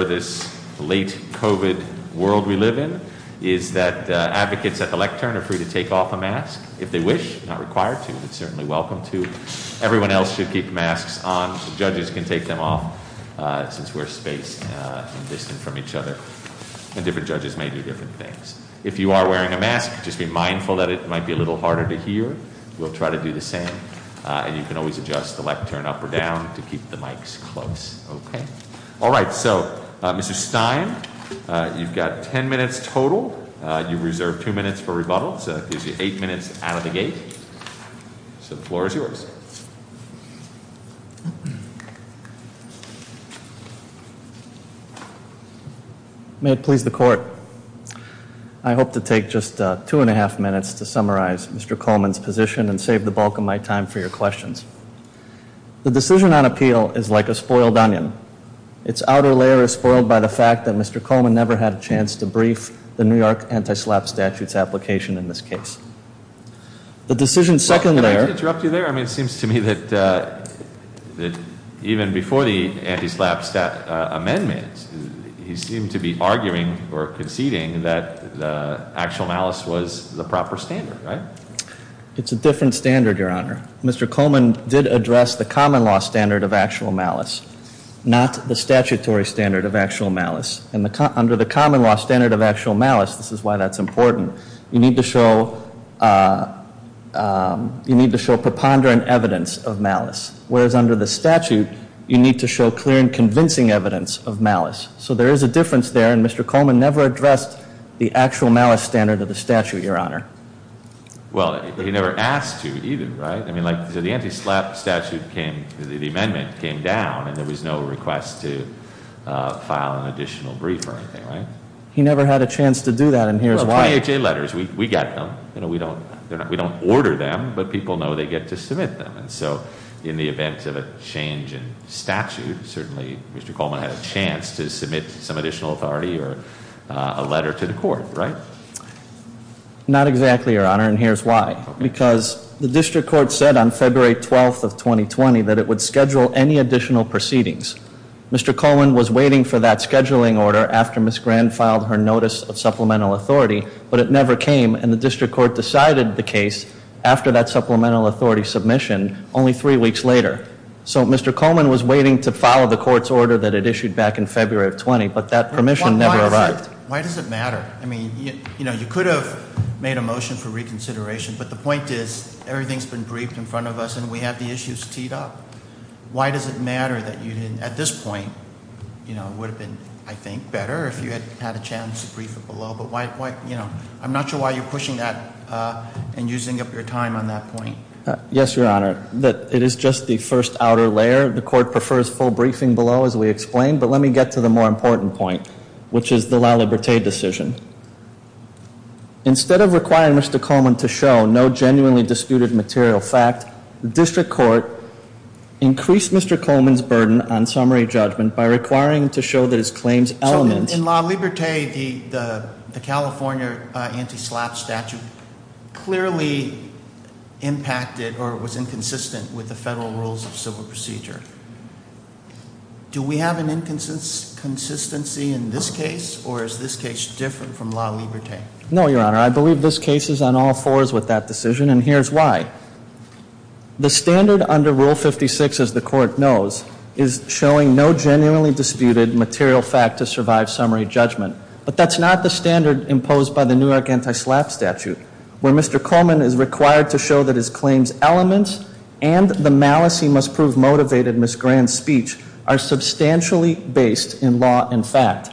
for this late COVID world we live in is that advocates at the lectern are free to take off a mask if they wish, not required to, but certainly welcome to. Everyone else should keep masks on. Judges can take them off since we're spaced and distant from each other. And different judges may do different things. If you are wearing a mask, just be mindful that it might be a little harder to hear. We'll try to do the same. And you can always adjust the lectern up or down to keep the mics close. Okay. All right. So, Mr. Stein, you've got ten minutes total. You've reserved two minutes for rebuttal. So that gives you eight minutes out of the gate. So the floor is yours. May it please the court. I hope to take just two and a half minutes to summarize Mr. Coleman's position and save the bulk of my time for your questions. The decision on appeal is like a spoiled onion. Its outer layer is spoiled by the fact that Mr. Coleman never had a chance to brief the New York anti-SLAPP statute's application in this case. The decision's second layer... Can I just interrupt you there? I mean, it seems to me that even before the anti-SLAPP amendment, he seemed to be arguing or conceding that the actual malice was the standard. It's a different standard, Your Honor. Mr. Coleman did address the common law standard of actual malice, not the statutory standard of actual malice. And under the common law standard of actual malice, this is why that's important, you need to show preponderant evidence of malice. Whereas under the statute, you need to show clear and convincing evidence of malice. So there is a difference there, and Mr. Coleman never addressed the actual malice standard of the statute, Your Honor. Well, he never asked to either, right? I mean, like, the anti-SLAPP statute came, the amendment came down, and there was no request to file an additional brief or anything, right? He never had a chance to do that, and here's why. Well, PHA letters, we get them. You know, we don't order them, but people know they get to submit them. And so in the event of a change in statute, certainly Mr. Coleman had a chance to submit some additional authority or a letter to the court, right? Not exactly, Your Honor, and here's why. Because the district court said on February 12th of 2020 that it would schedule any additional proceedings. Mr. Coleman was waiting for that scheduling order after Ms. Grand filed her notice of supplemental authority, but it never came, and the district court decided the case after that supplemental authority submission only three weeks later. So Mr. Coleman was waiting to file the court's order that it issued back in February of 20, but that permission never arrived. Why does it matter? I mean, you know, you could have made a motion for reconsideration, but the point is, everything's been briefed in front of us and we have the issues teed up. Why does it matter that you didn't, at this point, you know, it would have been, I think, better if you had had a chance to brief it below, but why, you know, I'm not sure why you're pushing that and using up your time on that point. Yes, Your Honor, it is just the first outer layer. The court prefers full briefing below, as we explained, but let me get to the more important point, which is the La Liberté decision. Instead of requiring Mr. Coleman to show no genuinely disputed material fact, the district court increased Mr. Coleman's burden on summary judgment by requiring him to show that his claims element... So in La Liberté, the California anti-slap statute clearly impacted or was inconsistent with the federal rules of civil procedure. Do we have an inconsistency in this case, or is this case different from La Liberté? No, Your Honor. I believe this case is on all fours with that decision, and here's why. The standard under Rule 56, as the court knows, is showing no genuinely disputed material fact to survive summary judgment, but that's not the standard imposed by the New York anti-slap statute, where Mr. Coleman is required to show that his claims element and the malice he must prove motivated Miss Grand's speech are substantially based in law and fact.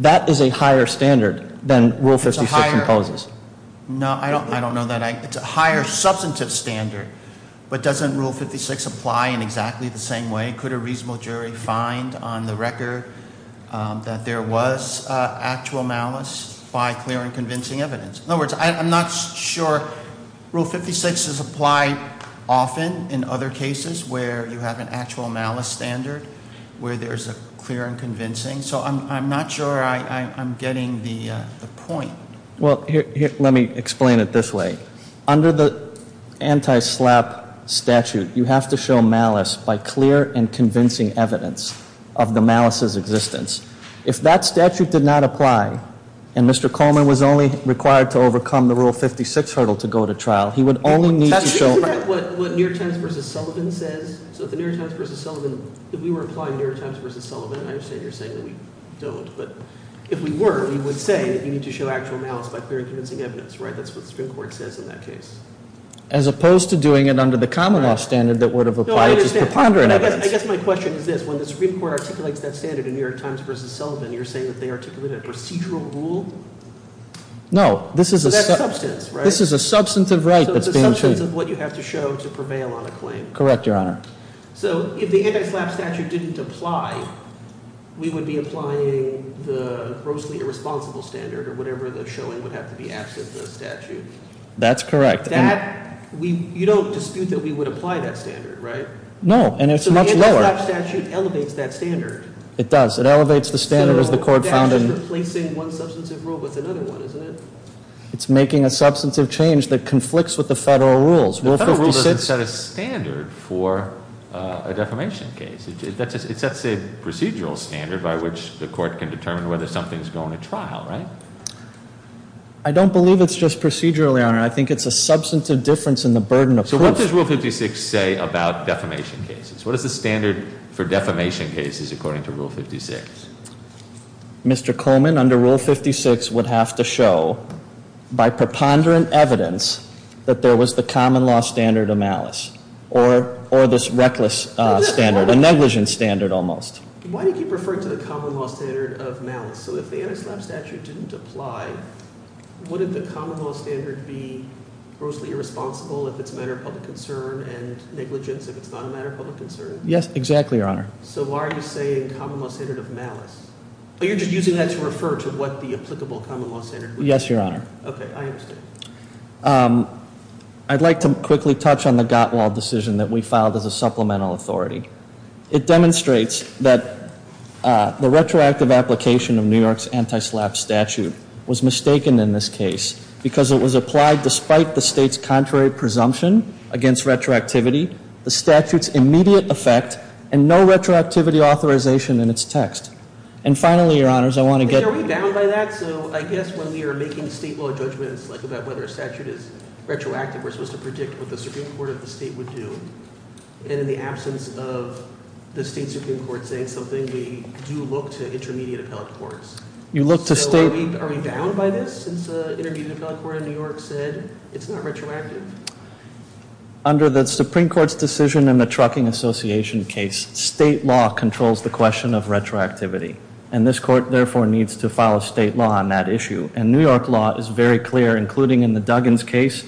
That is a higher standard than Rule 56 imposes. It's a higher... No, I don't know that. It's a higher substantive standard, but doesn't Rule 56 apply in exactly the same way? Could a reasonable jury find on the record that there was actual malice by clear and convincing evidence? In other words, I'm not sure... Rule 56 is applied often in other cases where you have an actual malice standard, where there's a clear and convincing. So I'm not sure I'm getting the point. Well, let me explain it this way. Under the anti-slap statute, you have to show malice by clear and convincing evidence of the malice's existence. If that statute did not apply, and Mr. Coleman was only required to overcome the Rule 56 hurdle to go to trial, he would only need to show... That's exactly what New York Times v. Sullivan says. So if the New York Times v. Sullivan, if we were applying New York Times v. Sullivan, I understand you're saying that we don't, but if we were, we would say that you need to show actual malice by clear and convincing evidence, right? That's what you're doing under the common law standard that would have applied to preponderant evidence. No, I understand. I guess my question is this. When the Supreme Court articulates that standard in New York Times v. Sullivan, you're saying that they articulated a procedural rule? No. So that's substance, right? This is a substance of right that's being treated. So it's a substance of what you have to show to prevail on a claim. Correct, Your Honor. So if the anti-slap statute didn't apply, we would be applying the grossly irresponsible standard, or whatever the showing would have to be absent the statute. That's correct. That, you don't dispute that we would apply that standard, right? No, and it's much lower. So the anti-slap statute elevates that standard. It does. It elevates the standard as the court found in... So that's just replacing one substantive rule with another one, isn't it? It's making a substantive change that conflicts with the federal rules. Rule 56... The federal rule doesn't set a standard for a defamation case. It sets a procedural standard by which the court can determine whether something's going to trial, right? I don't believe it's just procedurally, Your Honor. I think it's a substantive difference in the burden of... So what does Rule 56 say about defamation cases? What is the standard for defamation cases according to Rule 56? Mr. Coleman, under Rule 56 would have to show, by preponderant evidence, that there was the common law standard of malice, or this reckless standard, a negligent standard almost. Why did you refer to the common law standard of malice? So if the anti-slap statute didn't apply, wouldn't the common law standard be grossly irresponsible if it's a matter of public concern and negligence if it's not a matter of public concern? Yes, exactly, Your Honor. So why are you saying common law standard of malice? Oh, you're just using that to refer to what the applicable common law standard would be? Yes, Your Honor. Okay, I understand. I'd like to quickly touch on the Gottwald decision that we filed as a supplemental authority. It demonstrates that the retroactive application of New York's anti-slap statute was mistaken in this case because it was applied despite the state's contrary presumption against retroactivity, the statute's immediate effect, and no retroactivity authorization in its text. And finally, Your Honors, I want to get... Are we bound by that? So I guess when we are making state law judgments like about whether a statute is retroactive, we're supposed to predict what the Supreme Court is saying, something we do look to intermediate appellate courts. You look to state... So are we bound by this since the intermediate appellate court in New York said it's not retroactive? Under the Supreme Court's decision in the Trucking Association case, state law controls the question of retroactivity. And this court, therefore, needs to follow state law on that issue. And New York law is very clear, including in the Duggins case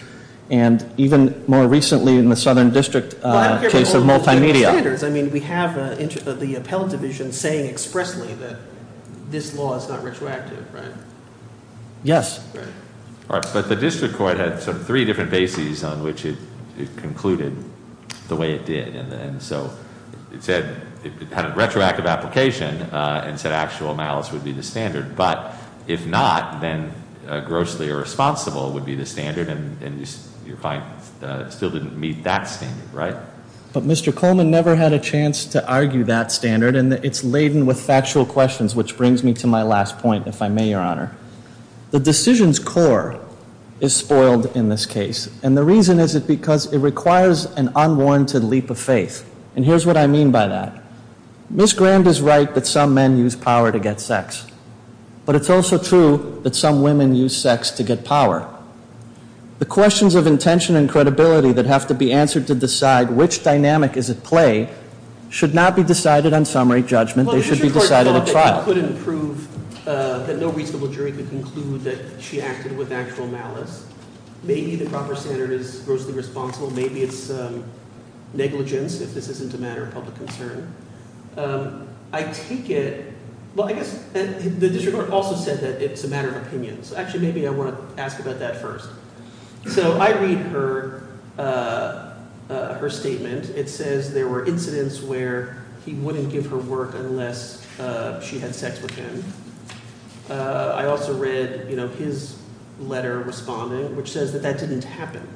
and even more recently in the Southern District case of Multimedia. Well, I don't care about the appellate division saying expressly that this law is not retroactive, right? Yes. But the district court had sort of three different bases on which it concluded the way it did. And so it said it had a retroactive application and said actual malice would be the standard. But if not, then grossly irresponsible would be the standard. And you're fine. It still wouldn't meet that standard, right? But Mr. Coleman never had a chance to argue that standard. And it's laden with factual questions, which brings me to my last point, if I may, Your Honor. The decision's core is spoiled in this case. And the reason is because it requires an unwarranted leap of faith. And here's what I mean by that. Ms. Grand is right that some men use power to get sex. But it's also true that some women use sex to get power. The questions of intention and credibility that have to be answered to decide which dynamic is at play should not be decided on summary judgment. They should be decided at trial. Well, the district court thought that you couldn't prove that no reasonable jury could conclude that she acted with actual malice. Maybe the proper standard is grossly responsible. Maybe it's negligence if this isn't a matter of public concern. I take it, well, I guess the district court also said that it's a matter of opinion. So actually maybe I want to ask about that first. So I read her statement. It says there were incidents where he wouldn't give her work unless she had sex with him. I also read his letter responding, which says that that didn't happen.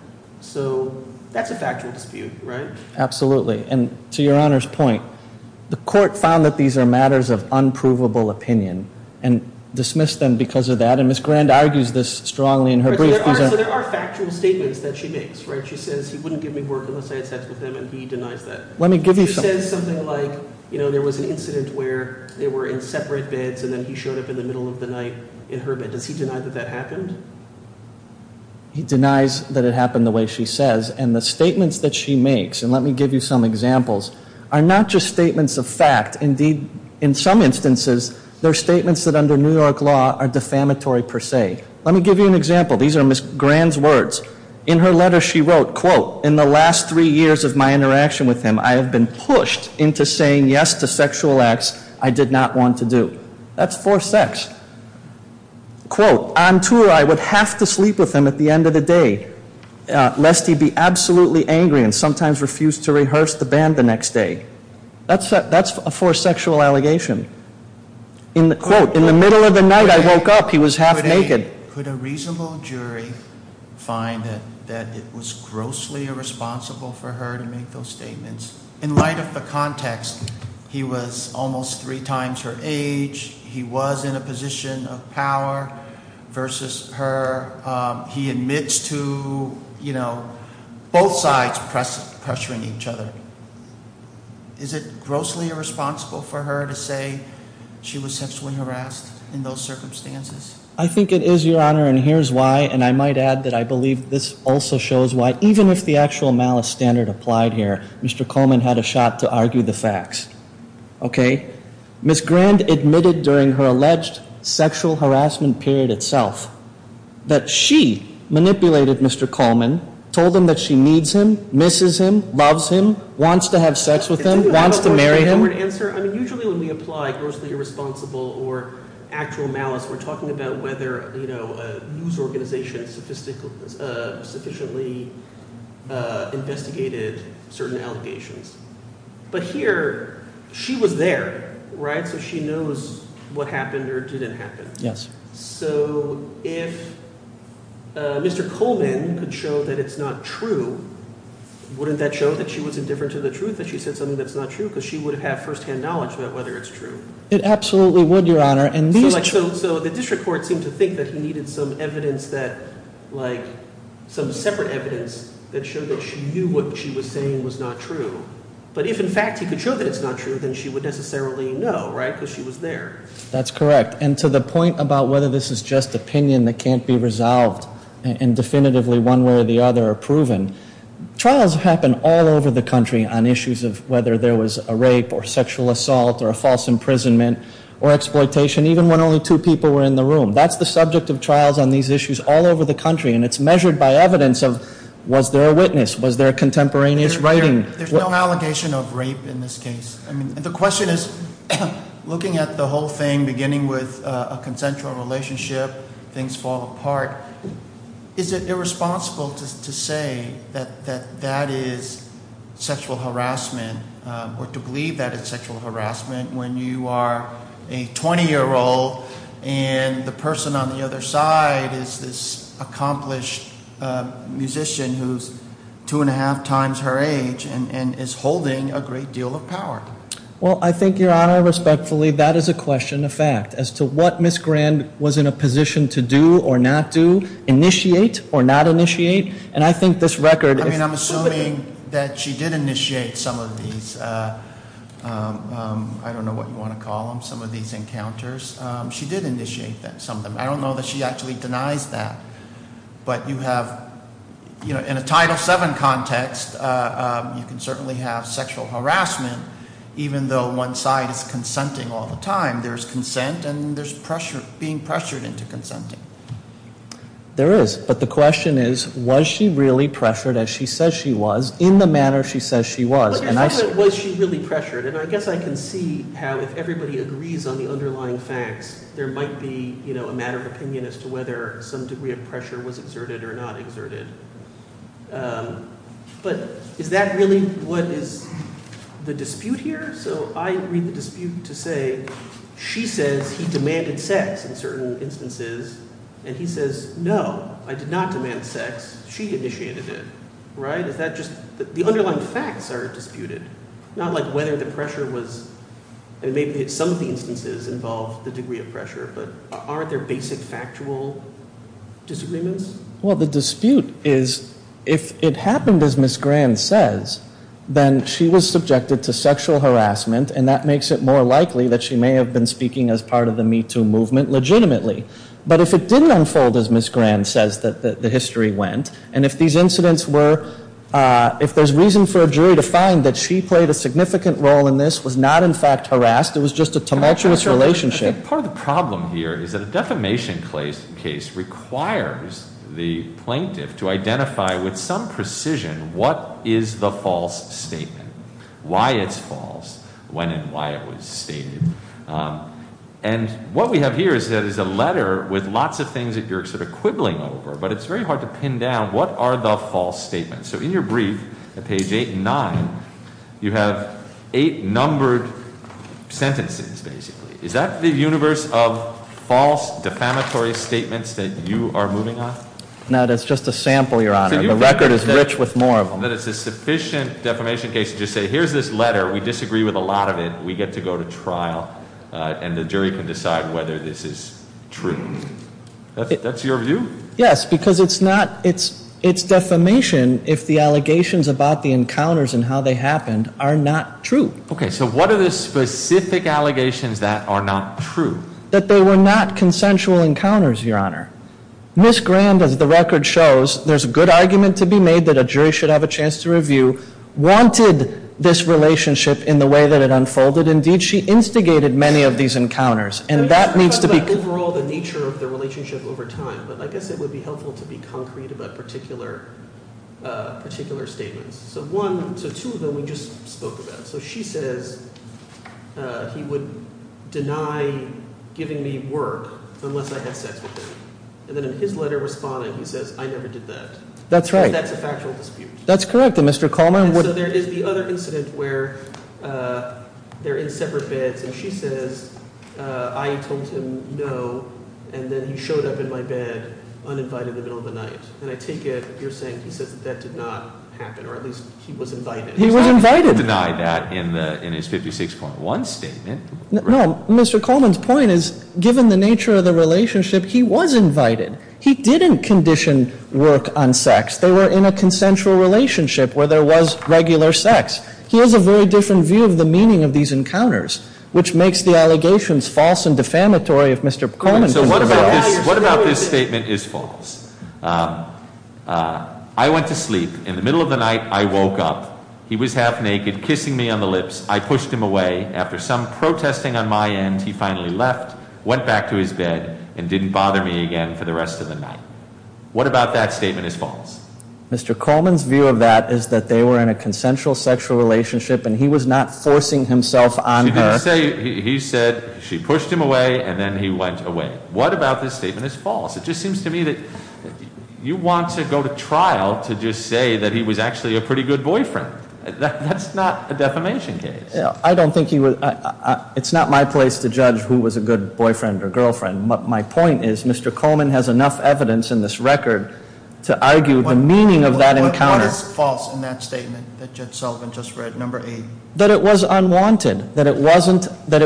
So that's a factual dispute, right? Absolutely. And to Your Honor's point, the court found that these are matters of unprovable opinion and dismissed them because of that. And Ms. Grand argues this strongly in her brief. So there are factual statements that she makes, right? She says he wouldn't give me work unless I had sex with him and he denies that. Let me give you something. She says something like, you know, there was an incident where they were in separate beds and then he showed up in the middle of the night in her bed. Does he deny that that happened? He denies that it happened the way she says. And the statements that she makes, and let me give you some examples, are not just statements of fact. Indeed, in some instances, they're statements that under New York law are defamatory per se. Let me give you an example. These are Ms. Grand's words. In her letter she wrote, quote, in the last three years of my interaction with him, I have been pushed into saying yes to sexual acts I did not want to do. That's for sex. Quote, on tour I would have to sleep with him at the end of the day, lest he be absolutely angry and sometimes refuse to rehearse the band the next day. That's for a sexual allegation. Quote, in the middle of the night I woke up, he was half naked. Could a reasonable jury find that it was grossly irresponsible for her to make those statements? In light of the context, he was almost three times her age, he was in a position of power versus her, he admits to, you know, both sides pressuring each other. Is it grossly irresponsible for her to say she was sexually harassed in those circumstances? I think it is, Your Honor, and here's why, and I might add that I believe this also shows why, even if the actual malice standard applied here, Mr. Coleman had a shot to argue the that she manipulated Mr. Coleman, told him that she needs him, misses him, loves him, wants to have sex with him, wants to marry him. Usually when we apply grossly irresponsible or actual malice, we're talking about whether a news organization sufficiently investigated certain allegations. But here, she was there, right? So she knows what happened or didn't happen. So if Mr. Coleman could show that it's not true, wouldn't that show that she was indifferent to the truth that she said something that's not true? Because she would have first-hand knowledge about whether it's true. It absolutely would, Your Honor. So the district court seemed to think that he needed some evidence that, like, some separate evidence that showed that she knew what she was saying was not true. But if in fact he could show that it's not true, then she would necessarily know, right? Because she was there. That's correct. And to the point about whether this is just opinion that can't be resolved and definitively one way or the other proven, trials happen all over the country on issues of whether there was a rape or sexual assault or a false imprisonment or exploitation, even when only two people were in the room. That's the subject of trials on these issues all over the country, and it's measured by evidence of was there a witness? Was there a contemporaneous writing? There's no allegation of rape in this case. I mean, the question is, looking at the whole thing, beginning with a consensual relationship, things fall apart, is it irresponsible to say that that is sexual harassment or to believe that it's sexual harassment when you are a 20-year-old and the person on the other side is this accomplished musician who's two-and-a-half times her age and is holding a great deal of power? Well, I think, Your Honor, respectfully, that is a question of fact as to what Ms. Grand was in a position to do or not do, initiate or not initiate, and I think this record is I mean, I'm assuming that she did initiate some of these, I don't know what you want to call them, some of these encounters. She did initiate some of them. I don't know that she actually denies that, but you have, you know, in a Title VII context, you can certainly have sexual harassment even though one side is consenting all the time. There's consent and there's pressure, being pressured into consenting. There is, but the question is, was she really pressured as she says she was in the manner she says she was? Well, you're talking about was she really pressured, and I guess I can see how if everybody agrees on the underlying facts, there might be, you know, a matter of opinion as to whether some degree of pressure was exerted or not exerted, but is that really what is the dispute here? So I read the dispute to say she says he demanded sex in certain instances, and he says, no, I did not demand sex. She initiated it, right? Is that just the underlying facts that are disputed? Not like whether the pressure was, and maybe some of the instances involve the degree of pressure, but are there basic factual disagreements? Well, the dispute is if it happened as Ms. Grand says, then she was subjected to sexual harassment, and that makes it more likely that she may have been speaking as part of the Me Too movement legitimately. But if it didn't unfold as Ms. Grand says that the history went, and if these incidents were, if there's reason for a jury to find that she played a significant role in this, was not in fact harassed, it was just a tumultuous relationship. I think part of the problem here is that a defamation case requires the plaintiff to identify with some precision what is the false statement, why it's false, when and why it was stated. And what we have here is that it's a letter with lots of things that you're sort of quibbling over, but it's very hard to pin down what are the false statements. So in your brief, at page eight and nine, you have eight numbered sentences, basically. Is that the universe of false defamatory statements that you are moving on? No, that's just a sample, Your Honor. The record is rich with more of them. So you think that it's a sufficient defamation case to just say, here's this letter, we disagree with a lot of it, we get to go to trial, and the jury can decide whether this is true. That's your view? Yes, because it's defamation if the allegations about the encounters and how they happened are not true. Okay, so what are the specific allegations that are not true? That they were not consensual encounters, Your Honor. Ms. Grand, as the record shows, there's a good argument to be made that a jury should have a chance to review, wanted this relationship in the way that it unfolded. Indeed, she instigated many of these encounters. And that needs to be – You're talking about overall the nature of the relationship over time. But I guess it would be helpful to be concrete about particular statements. So one – so two of them we just spoke about. So she says he would deny giving me work unless I had sex with him. And then in his letter responding, he says, I never did that. That's right. That's a factual dispute. That's correct, and Mr. Coleman would – I told him no, and then he showed up in my bed uninvited in the middle of the night. And I take it you're saying he says that that did not happen, or at least he was invited. He was invited. He denied that in his 56.1 statement. No, Mr. Coleman's point is given the nature of the relationship, he was invited. He didn't condition work on sex. They were in a consensual relationship where there was regular sex. He has a very different view of the meaning of these encounters, which makes the allegations false and defamatory if Mr. Coleman can prevail. So what about this statement is false? I went to sleep. In the middle of the night, I woke up. He was half naked, kissing me on the lips. I pushed him away. After some protesting on my end, he finally left, went back to his bed, and didn't bother me again for the rest of the night. What about that statement is false? Mr. Coleman's view of that is that they were in a consensual sexual relationship, and he was not forcing himself on her. He said she pushed him away, and then he went away. What about this statement is false? It just seems to me that you want to go to trial to just say that he was actually a pretty good boyfriend. That's not a defamation case. I don't think he was. It's not my place to judge who was a good boyfriend or girlfriend. My point is Mr. Coleman has enough evidence in this record to argue the meaning of that encounter. What is false in that statement that Judge Sullivan just read, number eight? That it was unwanted. That it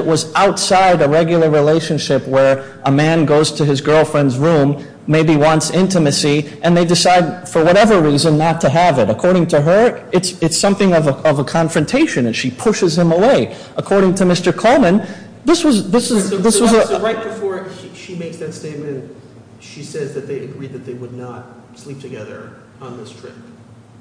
was outside a regular relationship where a man goes to his girlfriend's room, maybe wants intimacy, and they decide for whatever reason not to have it. According to her, it's something of a confrontation, and she pushes him away. According to Mr. Coleman, this was a- So right before she makes that statement, she says that they agreed that they would not sleep together on this trip.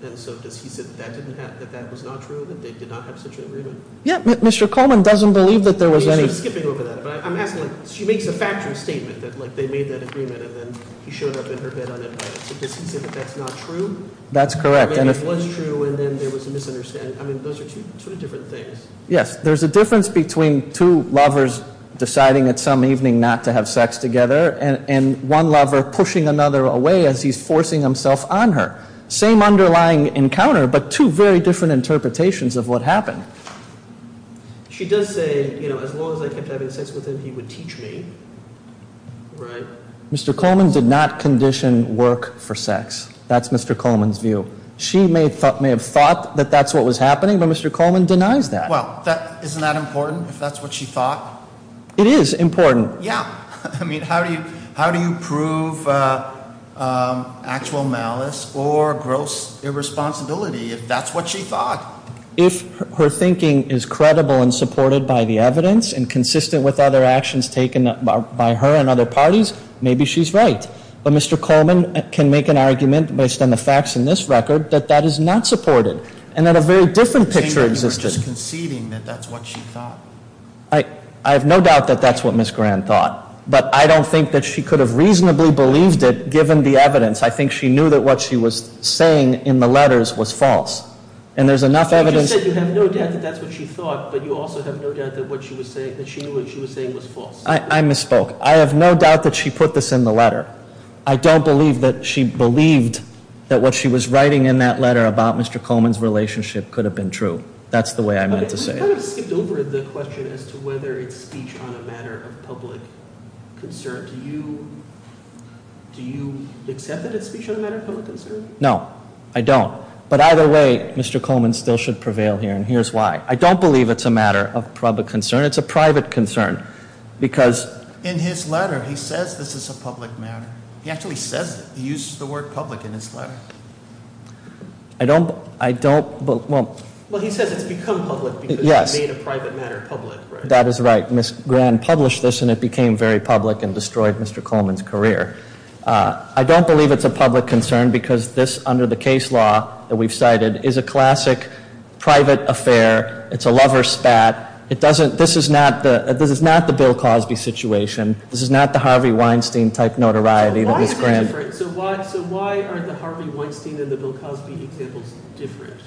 And so does he say that that was not true, that they did not have such an agreement? Yeah, Mr. Coleman doesn't believe that there was any- He's just skipping over that. But I'm asking, like, she makes a factual statement that, like, they made that agreement, and then he showed up in her bed on that night. So does he say that that's not true? That's correct, and if- Or maybe it was true, and then there was a misunderstanding. I mean, those are two different things. Yes, there's a difference between two lovers deciding at some evening not to have sex together and one lover pushing another away as he's forcing himself on her. Same underlying encounter, but two very different interpretations of what happened. She does say, you know, as long as I kept having sex with him, he would teach me, right? Mr. Coleman did not condition work for sex. That's Mr. Coleman's view. She may have thought that that's what was happening, but Mr. Coleman denies that. Well, isn't that important, if that's what she thought? It is important. Yeah. I mean, how do you prove actual malice or gross irresponsibility if that's what she thought? If her thinking is credible and supported by the evidence and consistent with other actions taken by her and other parties, maybe she's right. But Mr. Coleman can make an argument based on the facts in this record that that is not supported and that a very different picture exists. You're just conceding that that's what she thought. I have no doubt that that's what Ms. Graham thought, but I don't think that she could have reasonably believed it given the evidence. I think she knew that what she was saying in the letters was false, and there's enough evidence. You just said you have no doubt that that's what she thought, but you also have no doubt that what she was saying was false. I have no doubt that she put this in the letter. I don't believe that she believed that what she was writing in that letter about Mr. Coleman's relationship could have been true. That's the way I meant to say it. We've kind of skipped over the question as to whether it's speech on a matter of public concern. Do you accept that it's speech on a matter of public concern? No, I don't. But either way, Mr. Coleman still should prevail here, and here's why. I don't believe it's a matter of public concern. It's a private concern because in his letter, he says this is a public matter. He actually says it. He uses the word public in his letter. I don't. Well, he says it's become public because he made a private matter public. That is right. Ms. Graham published this, and it became very public and destroyed Mr. Coleman's career. I don't believe it's a public concern because this, under the case law that we've cited, is a classic private affair. It's a lover spat. This is not the Bill Cosby situation. This is not the Harvey Weinstein-type notoriety that Ms. Graham— So why is it different? So why are the Harvey Weinstein and the Bill Cosby examples different?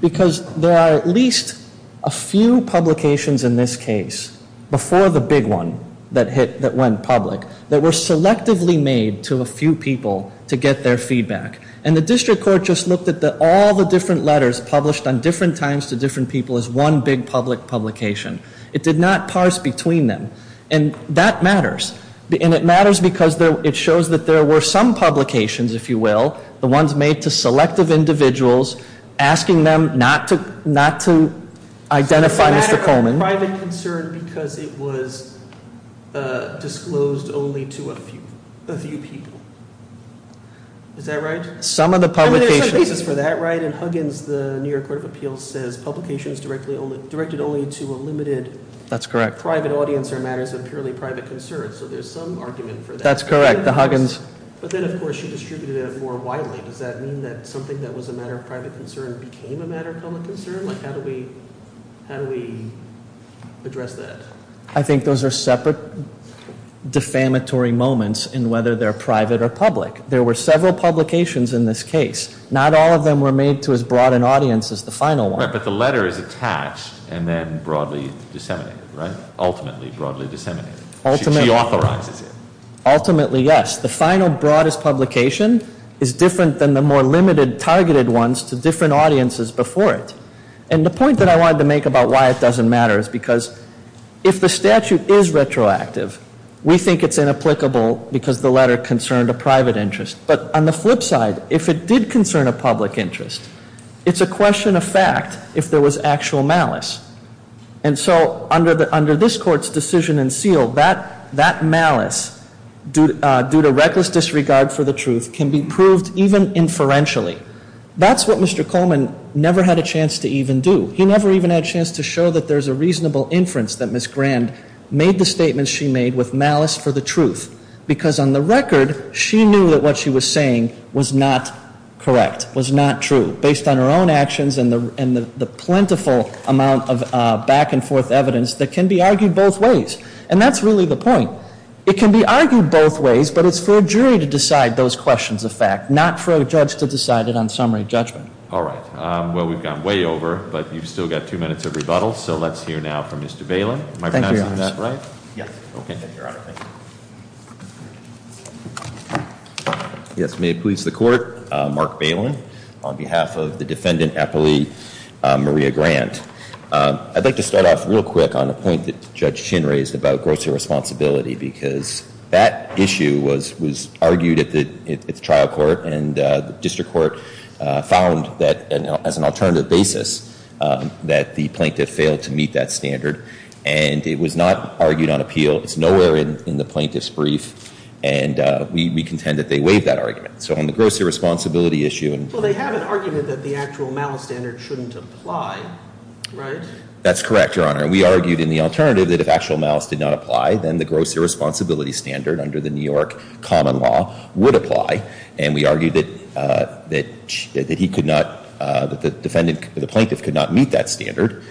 Because there are at least a few publications in this case, before the big one that went public, that were selectively made to a few people to get their feedback. And the district court just looked at all the different letters published on different times to different people as one big public publication. It did not parse between them. And that matters. And it matters because it shows that there were some publications, if you will, the ones made to selective individuals, asking them not to identify Mr. Coleman. It's a matter of private concern because it was disclosed only to a few people. Is that right? Some of the publications— I mean, there's some basis for that, right? In Huggins, the New York Court of Appeals says publication is directed only to a limited— That's correct. —private audience or matters of purely private concern. So there's some argument for that. That's correct. The Huggins— But then, of course, she distributed it more widely. Does that mean that something that was a matter of private concern became a matter of public concern? Like, how do we address that? I think those are separate defamatory moments in whether they're private or public. There were several publications in this case. Not all of them were made to as broad an audience as the final one. Right, but the letter is attached and then broadly disseminated, right? Ultimately broadly disseminated. Ultimately. She authorizes it. Ultimately, yes. The final, broadest publication is different than the more limited, targeted ones to different audiences before it. And the point that I wanted to make about why it doesn't matter is because if the statute is retroactive, we think it's inapplicable because the letter concerned a private interest. But on the flip side, if it did concern a public interest, it's a question of fact if there was actual malice. And so under this Court's decision in seal, that malice due to reckless disregard for the truth can be proved even inferentially. That's what Mr. Coleman never had a chance to even do. He never even had a chance to show that there's a reasonable inference that Ms. Grand made the statements she made with malice for the truth. Because on the record, she knew that what she was saying was not correct, was not true, based on her own actions and the plentiful amount of back and forth evidence that can be argued both ways. And that's really the point. It can be argued both ways, but it's for a jury to decide those questions of fact, not for a judge to decide it on summary judgment. All right. Well, we've gone way over, but you've still got two minutes of rebuttal. So let's hear now from Mr. Bailyn. Am I pronouncing that right? Yes. Okay. Thank you, Your Honor. Yes, may it please the Court. Mark Bailyn, on behalf of the defendant appellee, Maria Grand. I'd like to start off real quick on a point that Judge Chin raised about gross irresponsibility, because that issue was argued at the trial court, and the district court found that, as an alternative basis, that the plaintiff failed to meet that standard. And it was not argued on appeal. It's nowhere in the plaintiff's brief, and we contend that they waived that argument. So on the gross irresponsibility issue. Well, they have an argument that the actual malice standard shouldn't apply, right? That's correct, Your Honor. And we argued in the alternative that if actual malice did not apply, then the gross irresponsibility standard under the New York common law would apply. And we argued that he could not, that the defendant, the plaintiff could not meet that standard.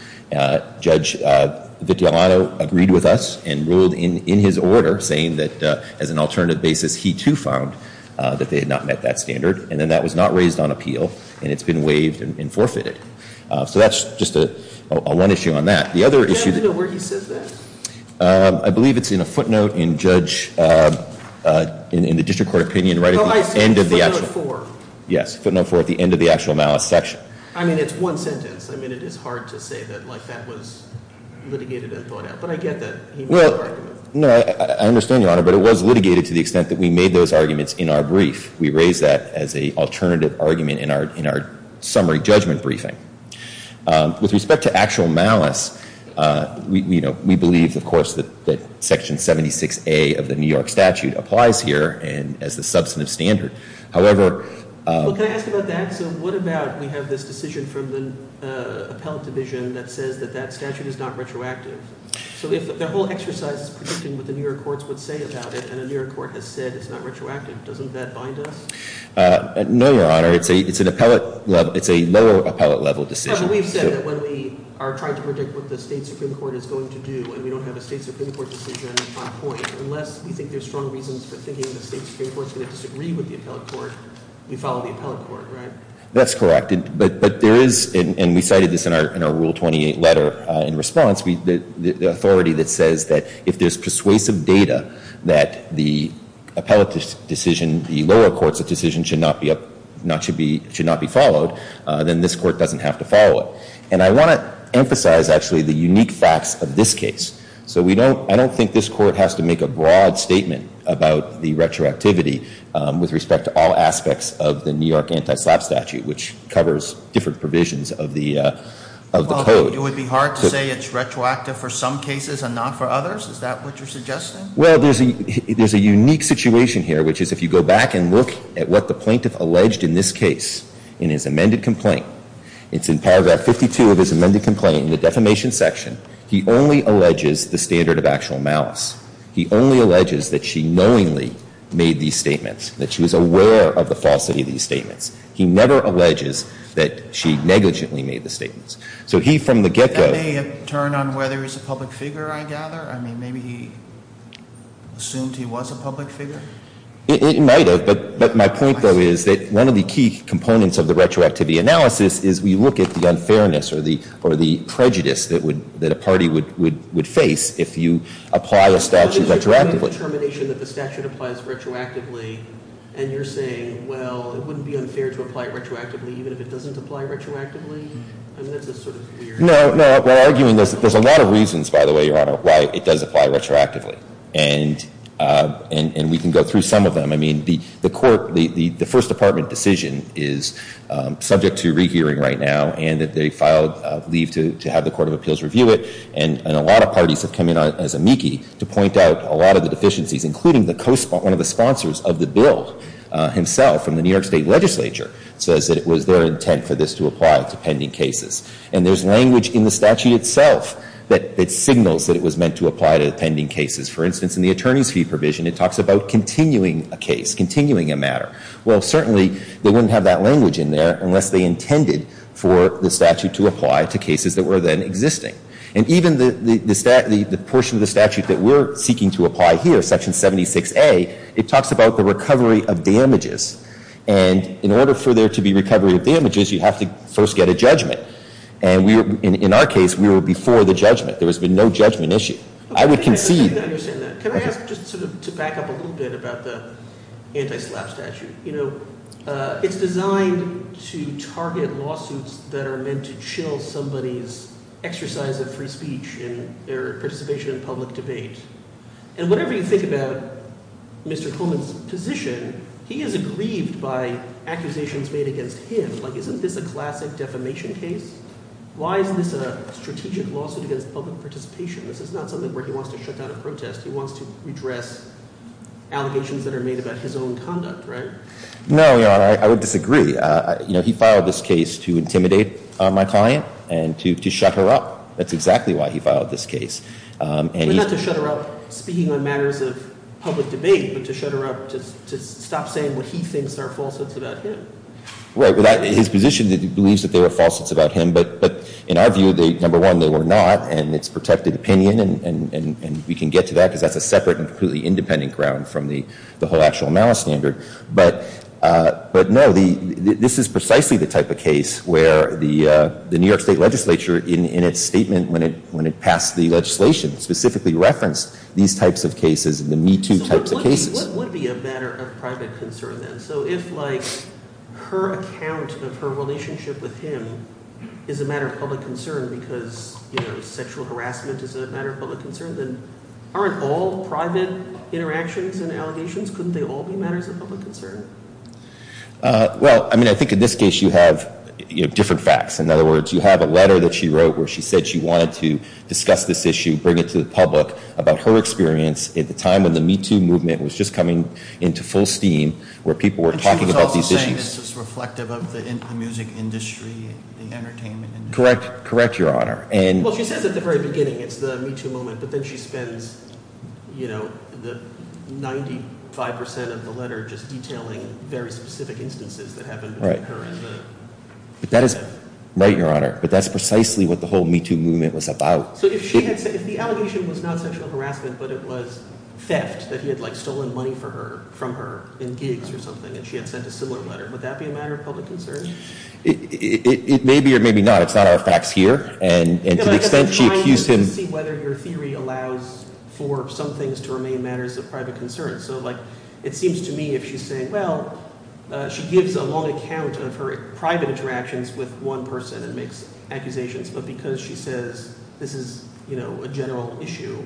Judge Vitellano agreed with us and ruled in his order saying that, as an alternative basis, he too found that they had not met that standard. And then that was not raised on appeal, and it's been waived and forfeited. So that's just one issue on that. The other issue that Do you happen to know where he says that? I believe it's in a footnote in Judge, in the district court opinion, right at the end of the actual Oh, I see, footnote four. Yes, footnote four at the end of the actual malice section. I mean, it's one sentence. I mean, it is hard to say that, like, that was litigated and thought out. But I get that he made that argument. No, I understand, Your Honor, but it was litigated to the extent that we made those arguments in our brief. We raised that as an alternative argument in our summary judgment briefing. With respect to actual malice, we believe, of course, that section 76A of the New York statute applies here as the substantive standard. However Well, can I ask about that? So what about we have this decision from the appellate division that says that that statute is not retroactive? So the whole exercise is predicting what the New York courts would say about it, and the New York court has said it's not retroactive. Doesn't that bind us? No, Your Honor. It's a lower appellate level decision. But we've said that when we are trying to predict what the state Supreme Court is going to do, and we don't have a state Supreme Court decision on point, unless we think there's strong reasons for thinking the state Supreme Court is going to disagree with the appellate court, we follow the appellate court, right? That's correct. But there is, and we cited this in our Rule 28 letter in response, the authority that says that if there's persuasive data that the appellate decision, the lower court's decision should not be followed, then this court doesn't have to follow it. And I want to emphasize, actually, the unique facts of this case. So I don't think this court has to make a broad statement about the retroactivity with respect to all aspects of the New York anti-SLAPP statute, which covers different provisions of the code. Well, it would be hard to say it's retroactive for some cases and not for others? Is that what you're suggesting? Well, there's a unique situation here, which is if you go back and look at what the plaintiff alleged in this case in his amended complaint, it's in paragraph 52 of his amended complaint in the defamation section, he only alleges the standard of actual malice. He only alleges that she knowingly made these statements, that she was aware of the falsity of these statements. He never alleges that she negligently made the statements. So he, from the get-go — That may have turned on whether he's a public figure, I gather. I mean, maybe he assumed he was a public figure? It might have. But my point, though, is that one of the key components of the retroactivity analysis is we look at the unfairness or the prejudice that a party would face if you apply a statute retroactively. So there's a determination that the statute applies retroactively, and you're saying, well, it wouldn't be unfair to apply it retroactively even if it doesn't apply retroactively? I mean, that's just sort of weird. No, no. We're arguing there's a lot of reasons, by the way, Your Honor, why it does apply retroactively. And we can go through some of them. I mean, the Court — the First Department decision is subject to rehearing right now, and they filed leave to have the Court of Appeals review it. And a lot of parties have come in as amici to point out a lot of the deficiencies, including the co-sponsor — one of the sponsors of the bill himself from the New York State legislature says that it was their intent for this to apply to pending cases. And there's language in the statute itself that signals that it was meant to apply to pending cases. For instance, in the attorney's fee provision, it talks about continuing a case, continuing a matter. Well, certainly, they wouldn't have that language in there unless they intended for the statute to apply to cases that were then existing. And even the portion of the statute that we're seeking to apply here, Section 76A, it talks about the recovery of damages. And in order for there to be recovery of damages, you have to first get a judgment. And in our case, we were before the judgment. There has been no judgment issue. I would concede — Let me understand that. Can I ask just sort of to back up a little bit about the anti-SLAPP statute? You know, it's designed to target lawsuits that are meant to chill somebody's exercise of free speech and their participation in public debate. And whatever you think about Mr. Coleman's position, he is aggrieved by accusations made against him. Like, isn't this a classic defamation case? Why is this a strategic lawsuit against public participation? This is not something where he wants to shut down a protest. He wants to redress allegations that are made about his own conduct, right? No, Your Honor. I would disagree. You know, he filed this case to intimidate my client and to shut her up. That's exactly why he filed this case. But not to shut her up, speaking on matters of public debate, but to shut her up, to stop saying what he thinks are falsehoods about him. Right. His position is that he believes that they were falsehoods about him. But in our view, number one, they were not. And it's protected opinion. And we can get to that because that's a separate and completely independent ground from the whole actual malice standard. But, no, this is precisely the type of case where the New York State legislature, in its statement when it passed the legislation, specifically referenced these types of cases, the MeToo types of cases. So what would be a matter of private concern then? So if, like, her account of her relationship with him is a matter of public concern because, you know, sexual harassment is a matter of public concern, then aren't all private interactions and allegations, couldn't they all be matters of public concern? Well, I mean, I think in this case you have different facts. In other words, you have a letter that she wrote where she said she wanted to discuss this issue, bring it to the public about her experience at the time when the MeToo movement was just coming into full steam where people were talking about these issues. And she was also saying this was reflective of the music industry, the entertainment industry. Correct. Correct, Your Honor. Well, she says at the very beginning it's the MeToo moment, but then she spends, you know, the 95% of the letter just detailing very specific instances that happened between her and the… Right. But that is right, Your Honor. But that's precisely what the whole MeToo movement was about. So if she had said – if the allegation was not sexual harassment but it was theft, that he had, like, stolen money from her in gigs or something and she had sent a similar letter, would that be a matter of public concern? It may be or maybe not. It's not our facts here. And to the extent she accused him… I'm trying to see whether your theory allows for some things to remain matters of private concern. So, like, it seems to me if she's saying – well, she gives a long account of her private interactions with one person and makes accusations. But because she says this is, you know, a general issue,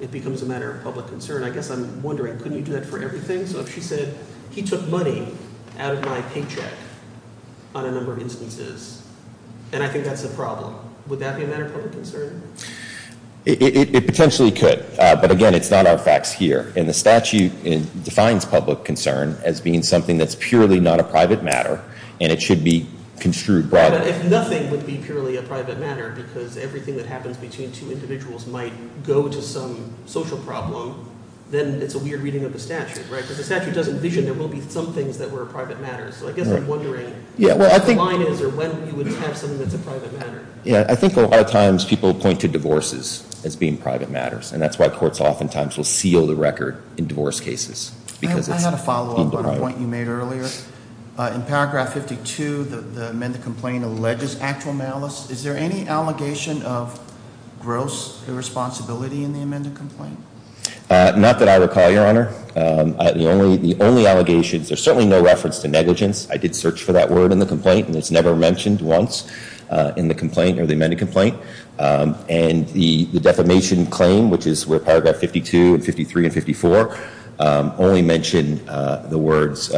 it becomes a matter of public concern. I guess I'm wondering, couldn't you do that for everything? So if she said he took money out of my paycheck on a number of instances and I think that's a problem, would that be a matter of public concern? It potentially could. But again, it's not our facts here. And the statute defines public concern as being something that's purely not a private matter, and it should be construed broadly. But if nothing would be purely a private matter because everything that happens between two individuals might go to some social problem, then it's a weird reading of the statute, right? Because the statute doesn't envision there will be some things that were private matters. So I guess I'm wondering what the line is or when you would have something that's a private matter. Yeah, I think a lot of times people point to divorces as being private matters, and that's why courts oftentimes will seal the record in divorce cases. I had a follow-up on a point you made earlier. In paragraph 52, the amended complaint alleges actual malice. Is there any allegation of gross irresponsibility in the amended complaint? Not that I recall, Your Honor. The only allegations, there's certainly no reference to negligence. I did search for that word in the complaint, and it's never mentioned once in the complaint or the amended complaint. And the defamation claim, which is where paragraph 52 and 53 and 54 only mention the words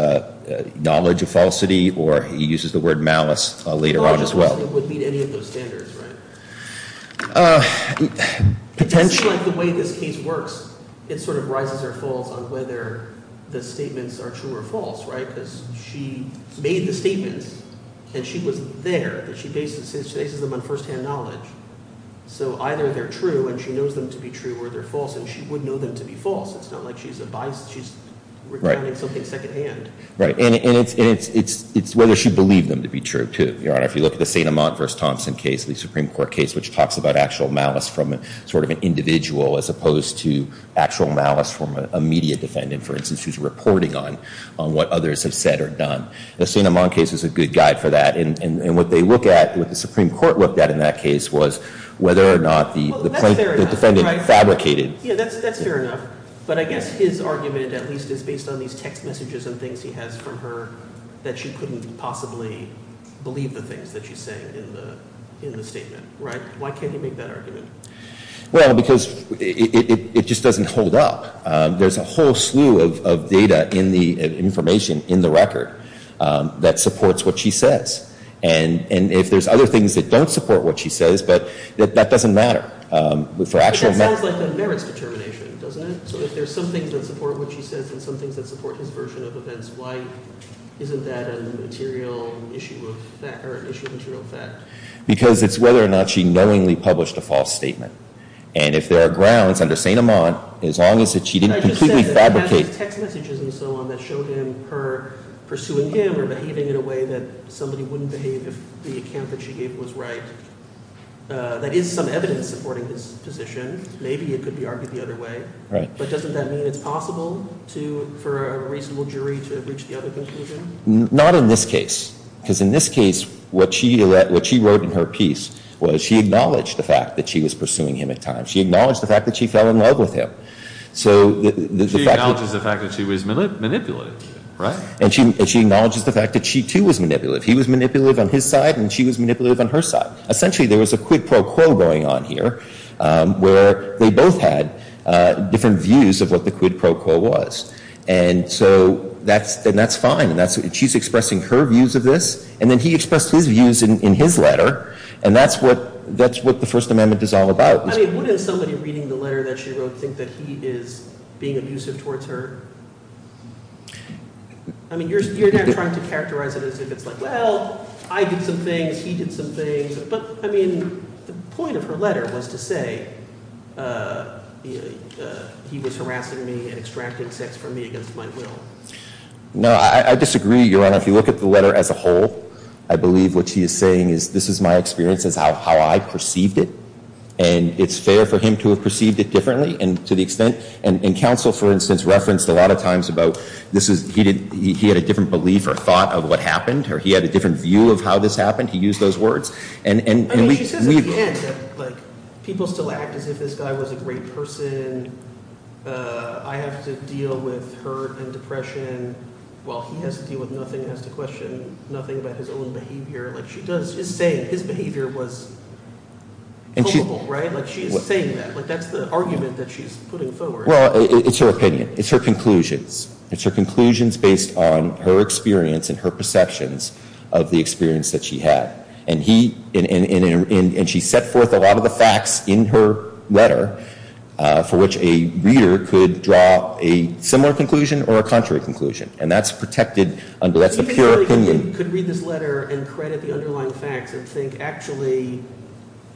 knowledge of falsity, or he uses the word malice later on as well. Knowledge of falsity would meet any of those standards, right? Potentially. It seems like the way this case works, it sort of rises or falls on whether the statements are true or false, right? Because she made the statements, and she was there. She bases them on firsthand knowledge. So either they're true, and she knows them to be true, or they're false, and she would know them to be false. It's not like she's a bias. She's recounting something secondhand. Right. And it's whether she believed them to be true, too, Your Honor. If you look at the St. Amant v. Thompson case, the Supreme Court case, which talks about actual malice from sort of an individual as opposed to actual malice from an immediate defendant, for instance, who's reporting on what others have said or done. The St. Amant case is a good guide for that, and what they look at, what the Supreme Court looked at in that case was whether or not the defendant fabricated. Yeah, that's fair enough, but I guess his argument at least is based on these text messages and things he has from her that she couldn't possibly believe the things that she's saying in the statement, right? Why can't he make that argument? Well, because it just doesn't hold up. There's a whole slew of data in the information in the record that supports what she says. And if there's other things that don't support what she says, but that doesn't matter. But that sounds like it merits determination, doesn't it? So if there's some things that support what she says and some things that support his version of events, why isn't that an issue of material fact? Because it's whether or not she knowingly published a false statement. And if there are grounds under St. Amant, as long as she didn't completely fabricate... I just said that it has these text messages and so on that showed her pursuing him or behaving in a way that somebody wouldn't behave if the account that she gave was right. That is some evidence supporting his position. Maybe it could be argued the other way. But doesn't that mean it's possible for a reasonable jury to reach the other conclusion? Not in this case. Because in this case, what she wrote in her piece was she acknowledged the fact that she was pursuing him at times. She acknowledged the fact that she fell in love with him. She acknowledges the fact that she was manipulative, right? And she acknowledges the fact that she too was manipulative. He was manipulative on his side and she was manipulative on her side. Essentially, there was a quid pro quo going on here where they both had different views of what the quid pro quo was. And so that's fine. She's expressing her views of this and then he expressed his views in his letter. And that's what the First Amendment is all about. I mean, wouldn't somebody reading the letter that she wrote think that he is being abusive towards her? I mean, you're now trying to characterize it as if it's like, well, I did some things, he did some things. But, I mean, the point of her letter was to say he was harassing me and extracted sex from me against my will. No, I disagree, Your Honor. If you look at the letter as a whole, I believe what she is saying is this is my experience, this is how I perceived it. And it's fair for him to have perceived it differently and to the extent – and counsel, for instance, referenced a lot of times about this is – he had a different belief or thought of what happened or he had a different view of how this happened. He used those words. I mean, she says at the end that people still act as if this guy was a great person. I have to deal with hurt and depression while he has to deal with nothing, has to question nothing about his own behavior. Like, she does – she's saying his behavior was culpable, right? Like, she is saying that. That's the argument that she's putting forward. Well, it's her opinion. It's her conclusions. It's her conclusions based on her experience and her perceptions of the experience that she had. And he – and she set forth a lot of the facts in her letter for which a reader could draw a similar conclusion or a contrary conclusion. And that's protected under – that's a pure opinion. You could read this letter and credit the underlying facts and think actually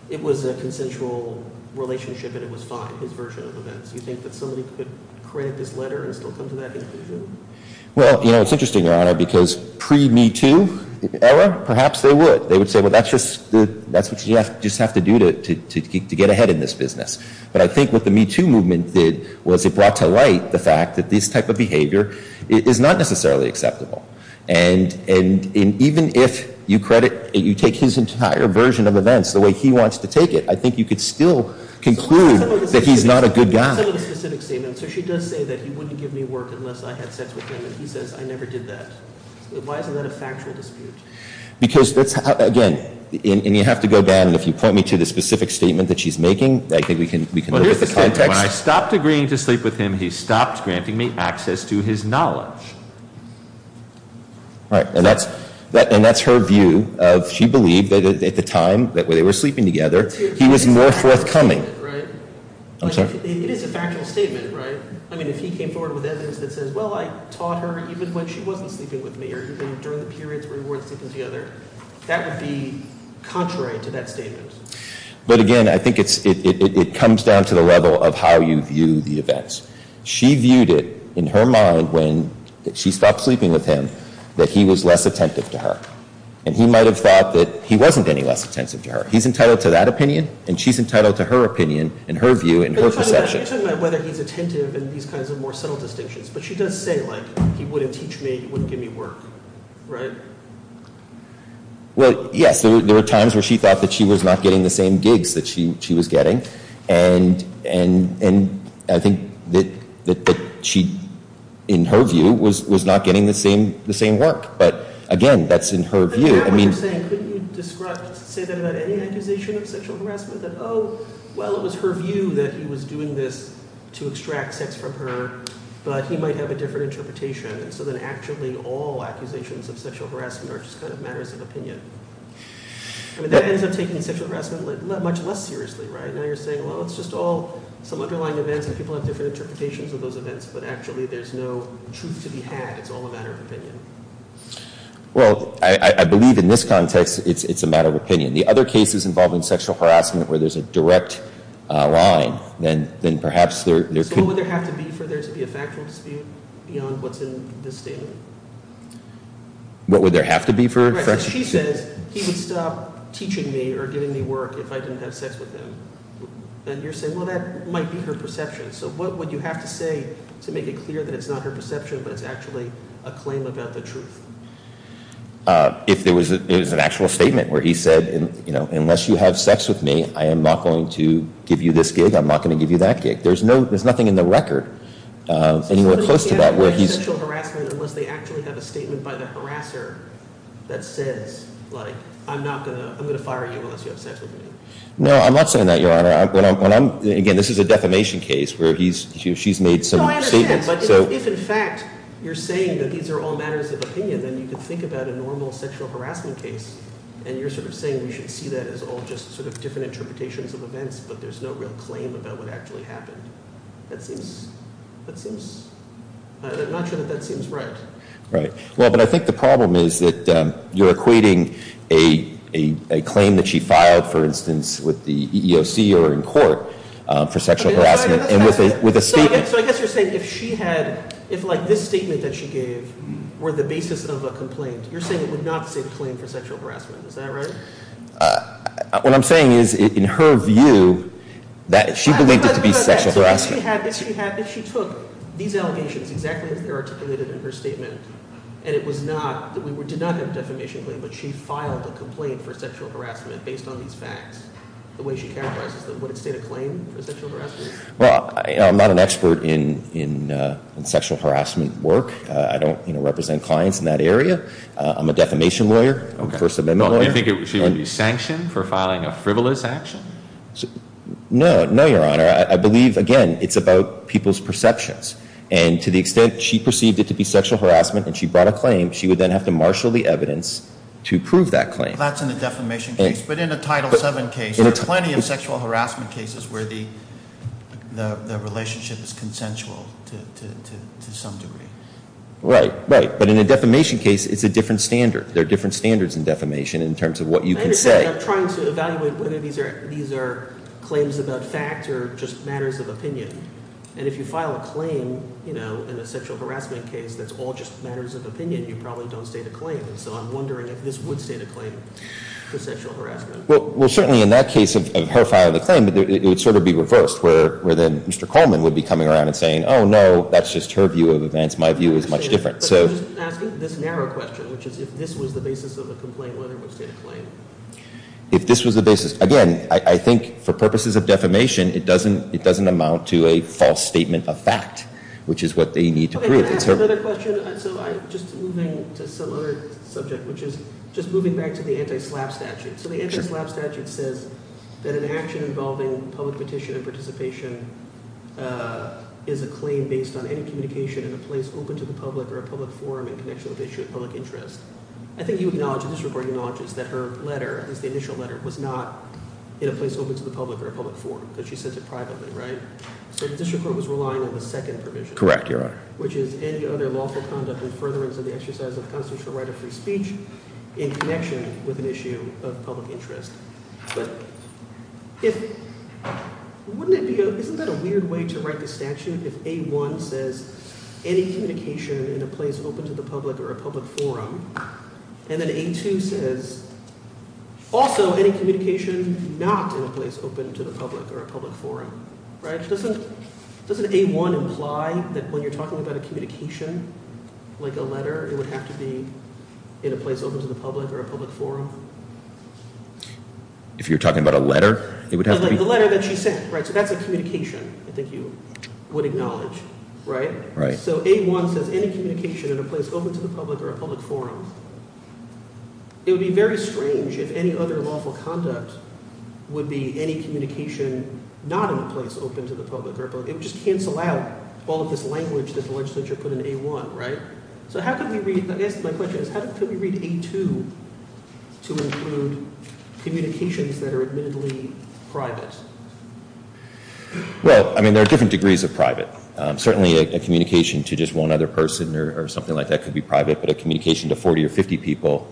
it was a consensual relationship and it was fine, his version of events. Do you think that somebody could credit this letter and still come to that conclusion? Well, you know, it's interesting, Your Honor, because pre-MeToo era, perhaps they would. They would say, well, that's just – that's what you just have to do to get ahead in this business. But I think what the MeToo movement did was it brought to light the fact that this type of behavior is not necessarily acceptable. And even if you credit – you take his entire version of events the way he wants to take it, I think you could still conclude that he's not a good guy. So she does say that he wouldn't give me work unless I had sex with him, and he says I never did that. Why isn't that a factual dispute? Because that's – again, and you have to go back, and if you point me to the specific statement that she's making, I think we can look at the context. When I stopped agreeing to sleep with him, he stopped granting me access to his knowledge. Right, and that's her view of – she believed that at the time that they were sleeping together, he was more forthcoming. It's a factual statement, right? I'm sorry? It is a factual statement, right? I mean, if he came forward with evidence that says, well, I taught her even when she wasn't sleeping with me or even during the periods where we weren't sleeping together, that would be contrary to that statement. But again, I think it's – it comes down to the level of how you view the events. She viewed it in her mind when she stopped sleeping with him that he was less attentive to her. And he might have thought that he wasn't any less attentive to her. He's entitled to that opinion, and she's entitled to her opinion and her view and her perception. But you're talking about whether he's attentive and these kinds of more subtle distinctions. But she does say, like, he wouldn't teach me, he wouldn't give me work, right? Well, yes, there were times where she thought that she was not getting the same gigs that she was getting. And I think that she, in her view, was not getting the same work. But again, that's in her view. Now what you're saying, couldn't you say that about any accusation of sexual harassment? That, oh, well, it was her view that he was doing this to extract sex from her, but he might have a different interpretation. And so then actually all accusations of sexual harassment are just kind of matters of opinion. I mean, that ends up taking sexual harassment much less seriously, right? Now you're saying, well, it's just all some underlying events and people have different interpretations of those events, but actually there's no truth to be had. It's all a matter of opinion. Well, I believe in this context it's a matter of opinion. The other cases involving sexual harassment where there's a direct line, then perhaps there could— So what would there have to be for there to be a factual dispute beyond what's in this statement? What would there have to be for— Right, so she says he would stop teaching me or giving me work if I didn't have sex with him. And you're saying, well, that might be her perception. So what would you have to say to make it clear that it's not her perception but it's actually a claim about the truth? If it was an actual statement where he said, you know, unless you have sex with me, I am not going to give you this gig, I'm not going to give you that gig. There's nothing in the record anywhere close to that where he's— So somebody would be asking for sexual harassment unless they actually have a statement by the harasser that says, like, I'm going to fire you unless you have sex with me. No, I'm not saying that, Your Honor. Again, this is a defamation case where she's made some statements. No, I understand, but if in fact you're saying that these are all matters of opinion, then you could think about a normal sexual harassment case. And you're sort of saying we should see that as all just sort of different interpretations of events, but there's no real claim about what actually happened. That seems—I'm not sure that that seems right. Right. Well, but I think the problem is that you're equating a claim that she filed, for instance, with the EEOC or in court for sexual harassment with a statement. So I guess you're saying if she had—if, like, this statement that she gave were the basis of a complaint, you're saying it would not be the same claim for sexual harassment. Is that right? What I'm saying is in her view, she believed it to be sexual harassment. If she took these allegations exactly as they're articulated in her statement, and it was not—we did not have a defamation claim, but she filed a complaint for sexual harassment based on these facts, the way she characterizes them, would it state a claim for sexual harassment? Well, I'm not an expert in sexual harassment work. I don't represent clients in that area. I'm a defamation lawyer, a First Amendment lawyer. Do you think she would be sanctioned for filing a frivolous action? No. No, Your Honor. I believe, again, it's about people's perceptions. And to the extent she perceived it to be sexual harassment and she brought a claim, she would then have to marshal the evidence to prove that claim. That's in a defamation case. But in a Title VII case, there are plenty of sexual harassment cases where the relationship is consensual to some degree. Right. Right. But in a defamation case, it's a different standard. There are different standards in defamation in terms of what you can say. I'm trying to evaluate whether these are claims about facts or just matters of opinion. And if you file a claim in a sexual harassment case that's all just matters of opinion, you probably don't state a claim. And so I'm wondering if this would state a claim for sexual harassment. Well, certainly in that case of her filing the claim, it would sort of be reversed where then Mr. Coleman would be coming around and saying, oh, no, that's just her view of events. My view is much different. But I'm just asking this narrow question, which is if this was the basis of a complaint, whether it would state a claim. If this was the basis, again, I think for purposes of defamation, it doesn't amount to a false statement of fact, which is what they need to prove. Can I ask another question? So just moving to some other subject, which is just moving back to the anti-SLAPP statute. So the anti-SLAPP statute says that an action involving public petition and participation is a claim based on any communication in a place open to the public or a public forum in connection with the issue of public interest. I think you acknowledge, the district court acknowledges, that her letter, at least the initial letter, was not in a place open to the public or a public forum because she said it privately, right? So the district court was relying on the second provision. Correct, Your Honor. Which is any other lawful conduct in furtherance of the exercise of constitutional right of free speech in connection with an issue of public interest. But if – wouldn't it be – isn't that a weird way to write the statute if A1 says any communication in a place open to the public or a public forum? And then A2 says also any communication not in a place open to the public or a public forum. Right? Doesn't A1 imply that when you're talking about a communication, like a letter, it would have to be in a place open to the public or a public forum? If you're talking about a letter, it would have to be – Like the letter that she sent, right? So that's a communication I think you would acknowledge, right? Right. So A1 says any communication in a place open to the public or a public forum. It would be very strange if any other lawful conduct would be any communication not in a place open to the public. It would just cancel out all of this language that the legislature put in A1, right? So how could we read – I guess my question is how could we read A2 to include communications that are admittedly private? Well, I mean, there are different degrees of private. Certainly a communication to just one other person or something like that could be private, but a communication to 40 or 50 people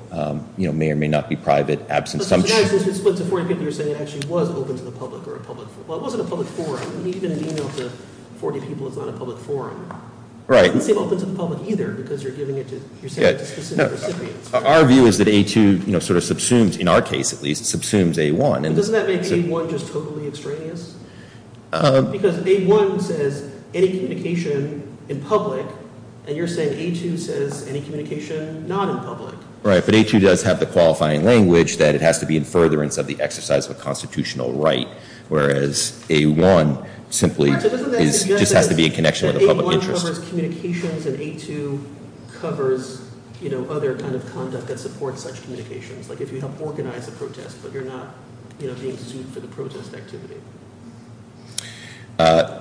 may or may not be private, absent some – So it's split to 40 people, you're saying it actually was open to the public or a public – well, it wasn't a public forum. I mean, even an email to 40 people is not a public forum. Right. It doesn't seem open to the public either because you're giving it to – you're sending it to specific recipients. Our view is that A2 sort of subsumes, in our case at least, subsumes A1. But doesn't that make A1 just totally extraneous? Because A1 says any communication in public, and you're saying A2 says any communication not in public. Right, but A2 does have the qualifying language that it has to be in furtherance of the exercise of a constitutional right, whereas A1 simply is – just has to be in connection with a public interest. A1 covers communications, and A2 covers other kind of conduct that supports such communications, like if you help organize a protest but you're not being sued for the protest activity. I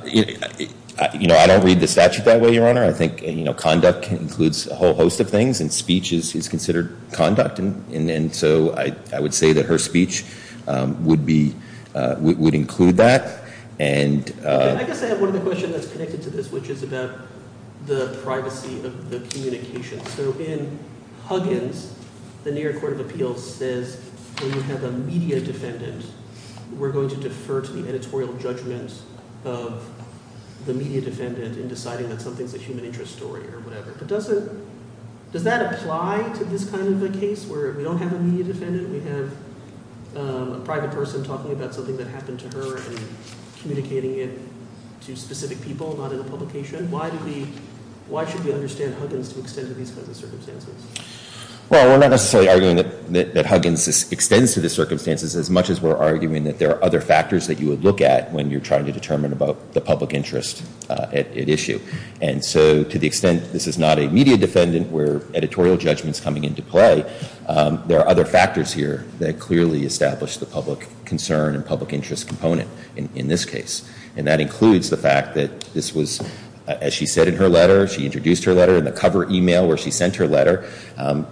don't read the statute that way, Your Honor. I think conduct includes a whole host of things, and speech is considered conduct. And so I would say that her speech would be – would include that. And I guess I have one other question that's connected to this, which is about the privacy of the communication. So in Huggins, the New York Court of Appeals says when you have a media defendant, we're going to defer to the editorial judgment of the media defendant in deciding that something's a human interest story or whatever. But does it – does that apply to this kind of a case where we don't have a media defendant? We have a private person talking about something that happened to her and communicating it to specific people, not in a publication. Why do we – why should we understand Huggins to extend to these kinds of circumstances? Well, we're not necessarily arguing that Huggins extends to the circumstances as much as we're arguing that there are other factors that you would look at when you're trying to determine about the public interest at issue. And so to the extent this is not a media defendant where editorial judgment's coming into play, there are other factors here that clearly establish the public concern and public interest component in this case. And that includes the fact that this was – as she said in her letter, she introduced her letter in the cover email where she sent her letter,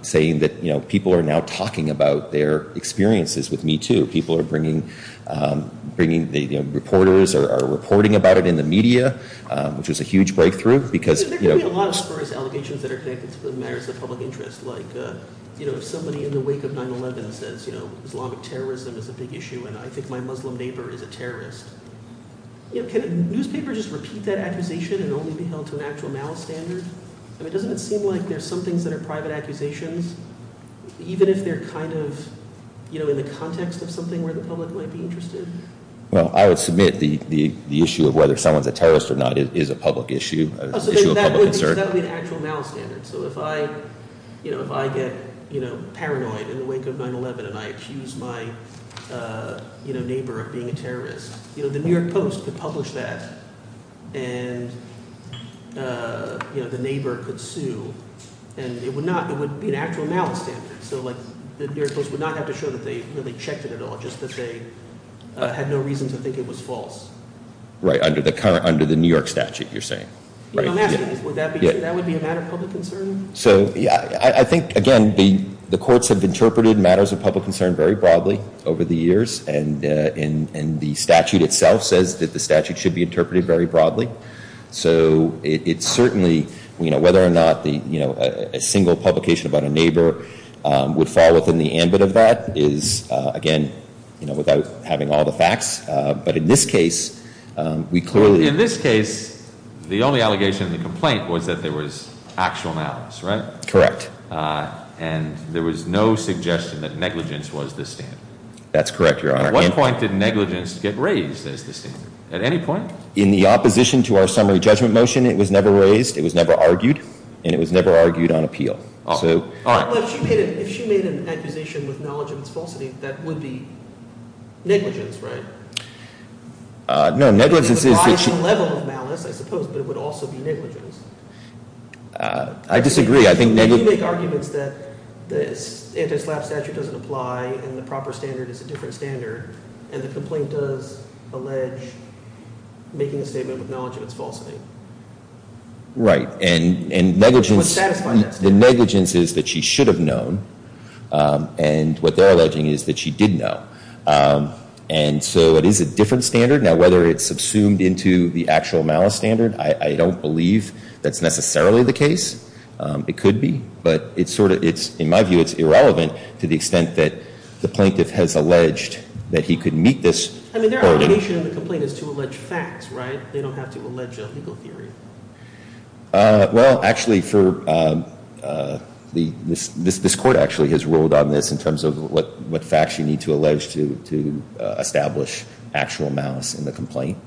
saying that, you know, people are now talking about their experiences with Me Too. People are bringing – you know, reporters are reporting about it in the media, which was a huge breakthrough because – There are prosperous allegations that are connected to the matters of public interest, like, you know, if somebody in the wake of 9-11 says, you know, Islamic terrorism is a big issue and I think my Muslim neighbor is a terrorist, you know, can a newspaper just repeat that accusation and only be held to an actual malice standard? I mean, doesn't it seem like there's some things that are private accusations, even if they're kind of, you know, in the context of something where the public might be interested? Well, I would submit the issue of whether someone's a terrorist or not is a public issue, an issue of public concern. That would be an actual malice standard. So if I, you know, if I get, you know, paranoid in the wake of 9-11 and I accuse my, you know, neighbor of being a terrorist, you know, the New York Post could publish that and, you know, the neighbor could sue and it would not – it would be an actual malice standard. So, like, the New York Post would not have to show that they really checked it at all, just that they had no reason to think it was false. Right, under the current – under the New York statute, you're saying. Would that be – that would be a matter of public concern? So, yeah, I think, again, the courts have interpreted matters of public concern very broadly over the years and the statute itself says that the statute should be interpreted very broadly. So it's certainly, you know, whether or not the, you know, a single publication about a neighbor would fall within the ambit of that is, again, you know, without having all the facts. But in this case, we clearly – In this case, the only allegation in the complaint was that there was actual malice, right? Correct. And there was no suggestion that negligence was the standard? That's correct, Your Honor. At what point did negligence get raised as the standard? At any point? In the opposition to our summary judgment motion, it was never raised, it was never argued, and it was never argued on appeal. But if she made an accusation with knowledge of its falsity, that would be negligence, right? No, negligence is – It would imply some level of malice, I suppose, but it would also be negligence. I disagree. I think – You make arguments that the anti-SLAPP statute doesn't apply and the proper standard is a different standard and the complaint does allege making a statement with knowledge of its falsity. Right. And negligence – It would satisfy that standard. The negligence is that she should have known, and what they're alleging is that she did know. And so it is a different standard. Now, whether it's subsumed into the actual malice standard, I don't believe that's necessarily the case. It could be. But it's sort of – in my view, it's irrelevant to the extent that the plaintiff has alleged that he could meet this – I mean, their obligation in the complaint is to allege facts, right? They don't have to allege a legal theory. Well, actually, for – this Court actually has ruled on this in terms of what facts you need to allege to establish actual malice in the complaint.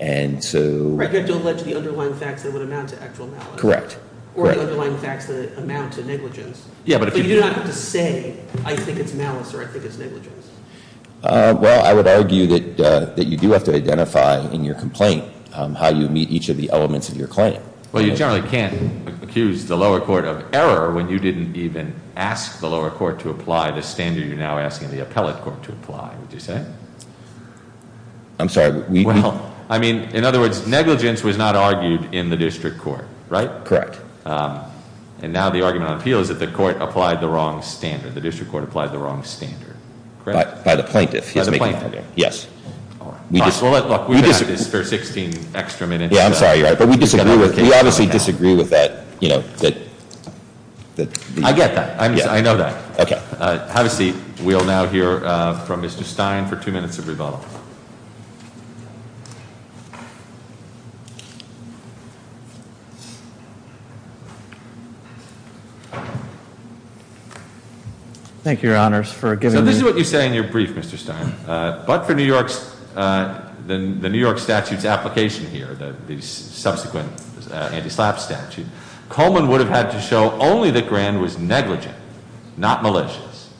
And so – Right. You have to allege the underlying facts that would amount to actual malice. Correct. Or the underlying facts that amount to negligence. Yeah, but if you – But you do not have to say, I think it's malice or I think it's negligence. Well, I would argue that you do have to identify in your complaint how you meet each of the elements of your claim. Well, you generally can't accuse the lower court of error when you didn't even ask the lower court to apply the standard you're now asking the appellate court to apply, would you say? I'm sorry. Well, I mean, in other words, negligence was not argued in the district court, right? Correct. And now the argument on appeal is that the court applied the wrong standard. The district court applied the wrong standard. Correct. By the plaintiff. By the plaintiff. Yes. All right. We've had this for 16 extra minutes. Yeah, I'm sorry. You're right. But we disagree with – we obviously disagree with that, you know, that – I get that. I know that. Okay. Have a seat. We'll now hear from Mr. Stein for two minutes of rebuttal. Thank you, Your Honors, for giving me – So this is what you say in your brief, Mr. Stein. But for New York's – the New York statute's application here, the subsequent anti-SLAPP statute, Coleman would have had to show only that Grand was negligent, not malicious.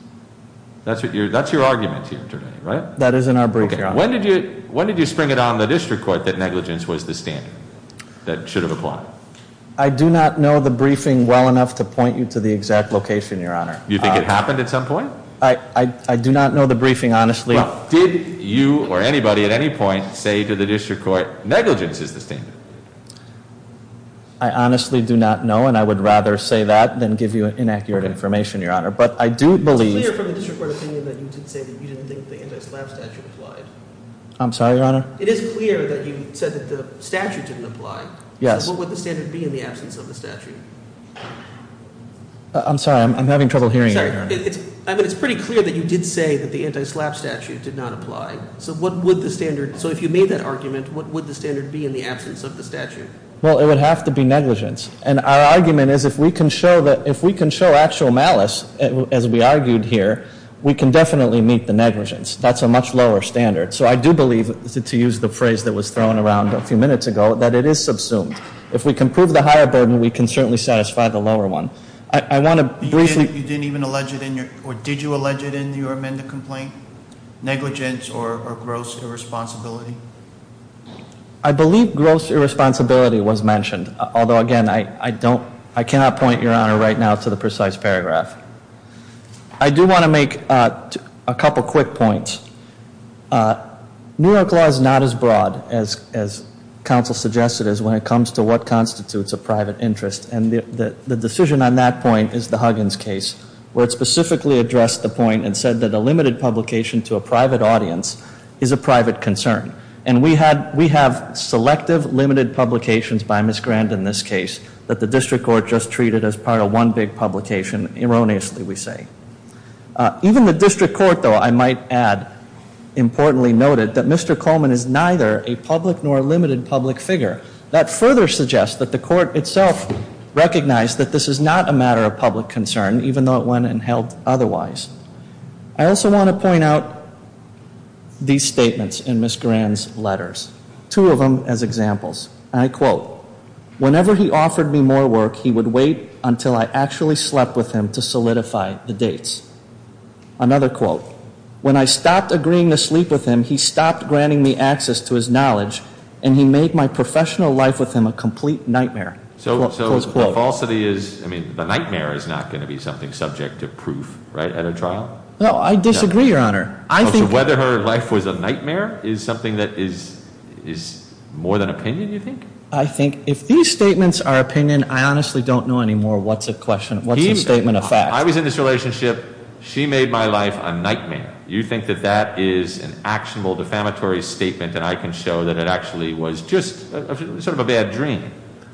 That's what you're – that's your argument here today, right? That is in our brief, Your Honor. Okay. When did you spring it on the district court that negligence was the standard that should have applied? I do not know the briefing well enough to point you to the exact location, Your Honor. You think it happened at some point? I do not know the briefing, honestly. Well, did you or anybody at any point say to the district court, negligence is the standard? I honestly do not know, and I would rather say that than give you inaccurate information, Your Honor. But I do believe – I'm sorry, Your Honor? It is clear that you said that the statute didn't apply. Yes. So what would the standard be in the absence of the statute? I'm sorry. I'm having trouble hearing you, Your Honor. I mean, it's pretty clear that you did say that the anti-SLAPP statute did not apply. So what would the standard – so if you made that argument, what would the standard be in the absence of the statute? Well, it would have to be negligence. And our argument is if we can show actual malice, as we argued here, we can definitely meet the negligence. That's a much lower standard. So I do believe, to use the phrase that was thrown around a few minutes ago, that it is subsumed. If we can prove the higher burden, we can certainly satisfy the lower one. I want to briefly – You didn't even allege it in your – or did you allege it in your amended complaint, negligence or gross irresponsibility? I believe gross irresponsibility was mentioned. Although, again, I don't – I cannot point, Your Honor, right now to the precise paragraph. I do want to make a couple quick points. New York law is not as broad as counsel suggested is when it comes to what constitutes a private interest. And the decision on that point is the Huggins case, where it specifically addressed the point and said that a limited publication to a private audience is a private concern. And we had – we have selective limited publications by Ms. Grand in this case that the district court just treated as part of one big publication, erroneously we say. Even the district court, though, I might add, importantly noted, that Mr. Coleman is neither a public nor a limited public figure. That further suggests that the court itself recognized that this is not a matter of public concern, even though it went and held otherwise. I also want to point out these statements in Ms. Grand's letters, two of them as examples. And I quote, whenever he offered me more work, he would wait until I actually slept with him to solidify the dates. Another quote, when I stopped agreeing to sleep with him, he stopped granting me access to his knowledge and he made my professional life with him a complete nightmare. Close quote. So the falsity is – I mean, the nightmare is not going to be something subject to proof, right, at a trial? No, I disagree, Your Honor. I think – So whether her life was a nightmare is something that is more than opinion, you think? I think if these statements are opinion, I honestly don't know anymore what's a question – what's a statement of fact. I was in this relationship. She made my life a nightmare. You think that that is an actionable, defamatory statement and I can show that it actually was just sort of a bad dream?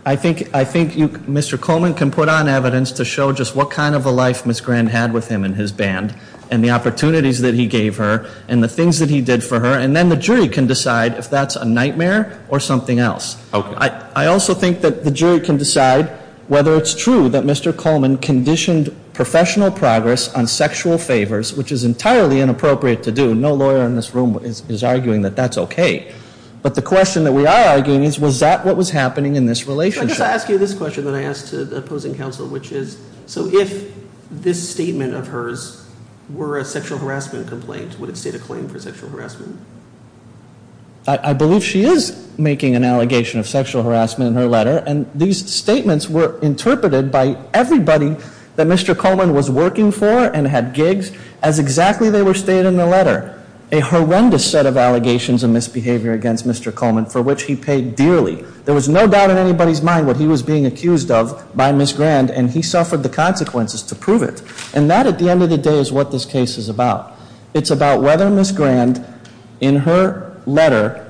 I think Mr. Coleman can put on evidence to show just what kind of a life Ms. Grand had with him in his band and the opportunities that he gave her and the things that he did for her and then the jury can decide if that's a nightmare or something else. I also think that the jury can decide whether it's true that Mr. Coleman conditioned professional progress on sexual favors, which is entirely inappropriate to do. No lawyer in this room is arguing that that's okay. But the question that we are arguing is, was that what was happening in this relationship? So I guess I ask you this question that I ask to the opposing counsel, which is, so if this statement of hers were a sexual harassment complaint, would it state a claim for sexual harassment? I believe she is making an allegation of sexual harassment in her letter and these statements were interpreted by everybody that Mr. Coleman was working for and had gigs as exactly they were stated in the letter. A horrendous set of allegations of misbehavior against Mr. Coleman for which he paid dearly. There was no doubt in anybody's mind what he was being accused of by Ms. Grand and he suffered the consequences to prove it. And that at the end of the day is what this case is about. It's about whether Ms. Grand in her letter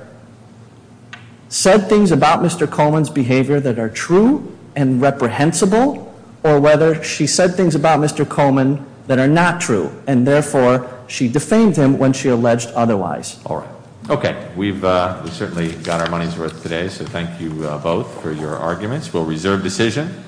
said things about Mr. Coleman's behavior that are true and reprehensible or whether she said things about Mr. Coleman that are not true and therefore she defamed him when she alleged otherwise. Okay. We've certainly got our money's worth today, so thank you both for your arguments. We'll reserve decision.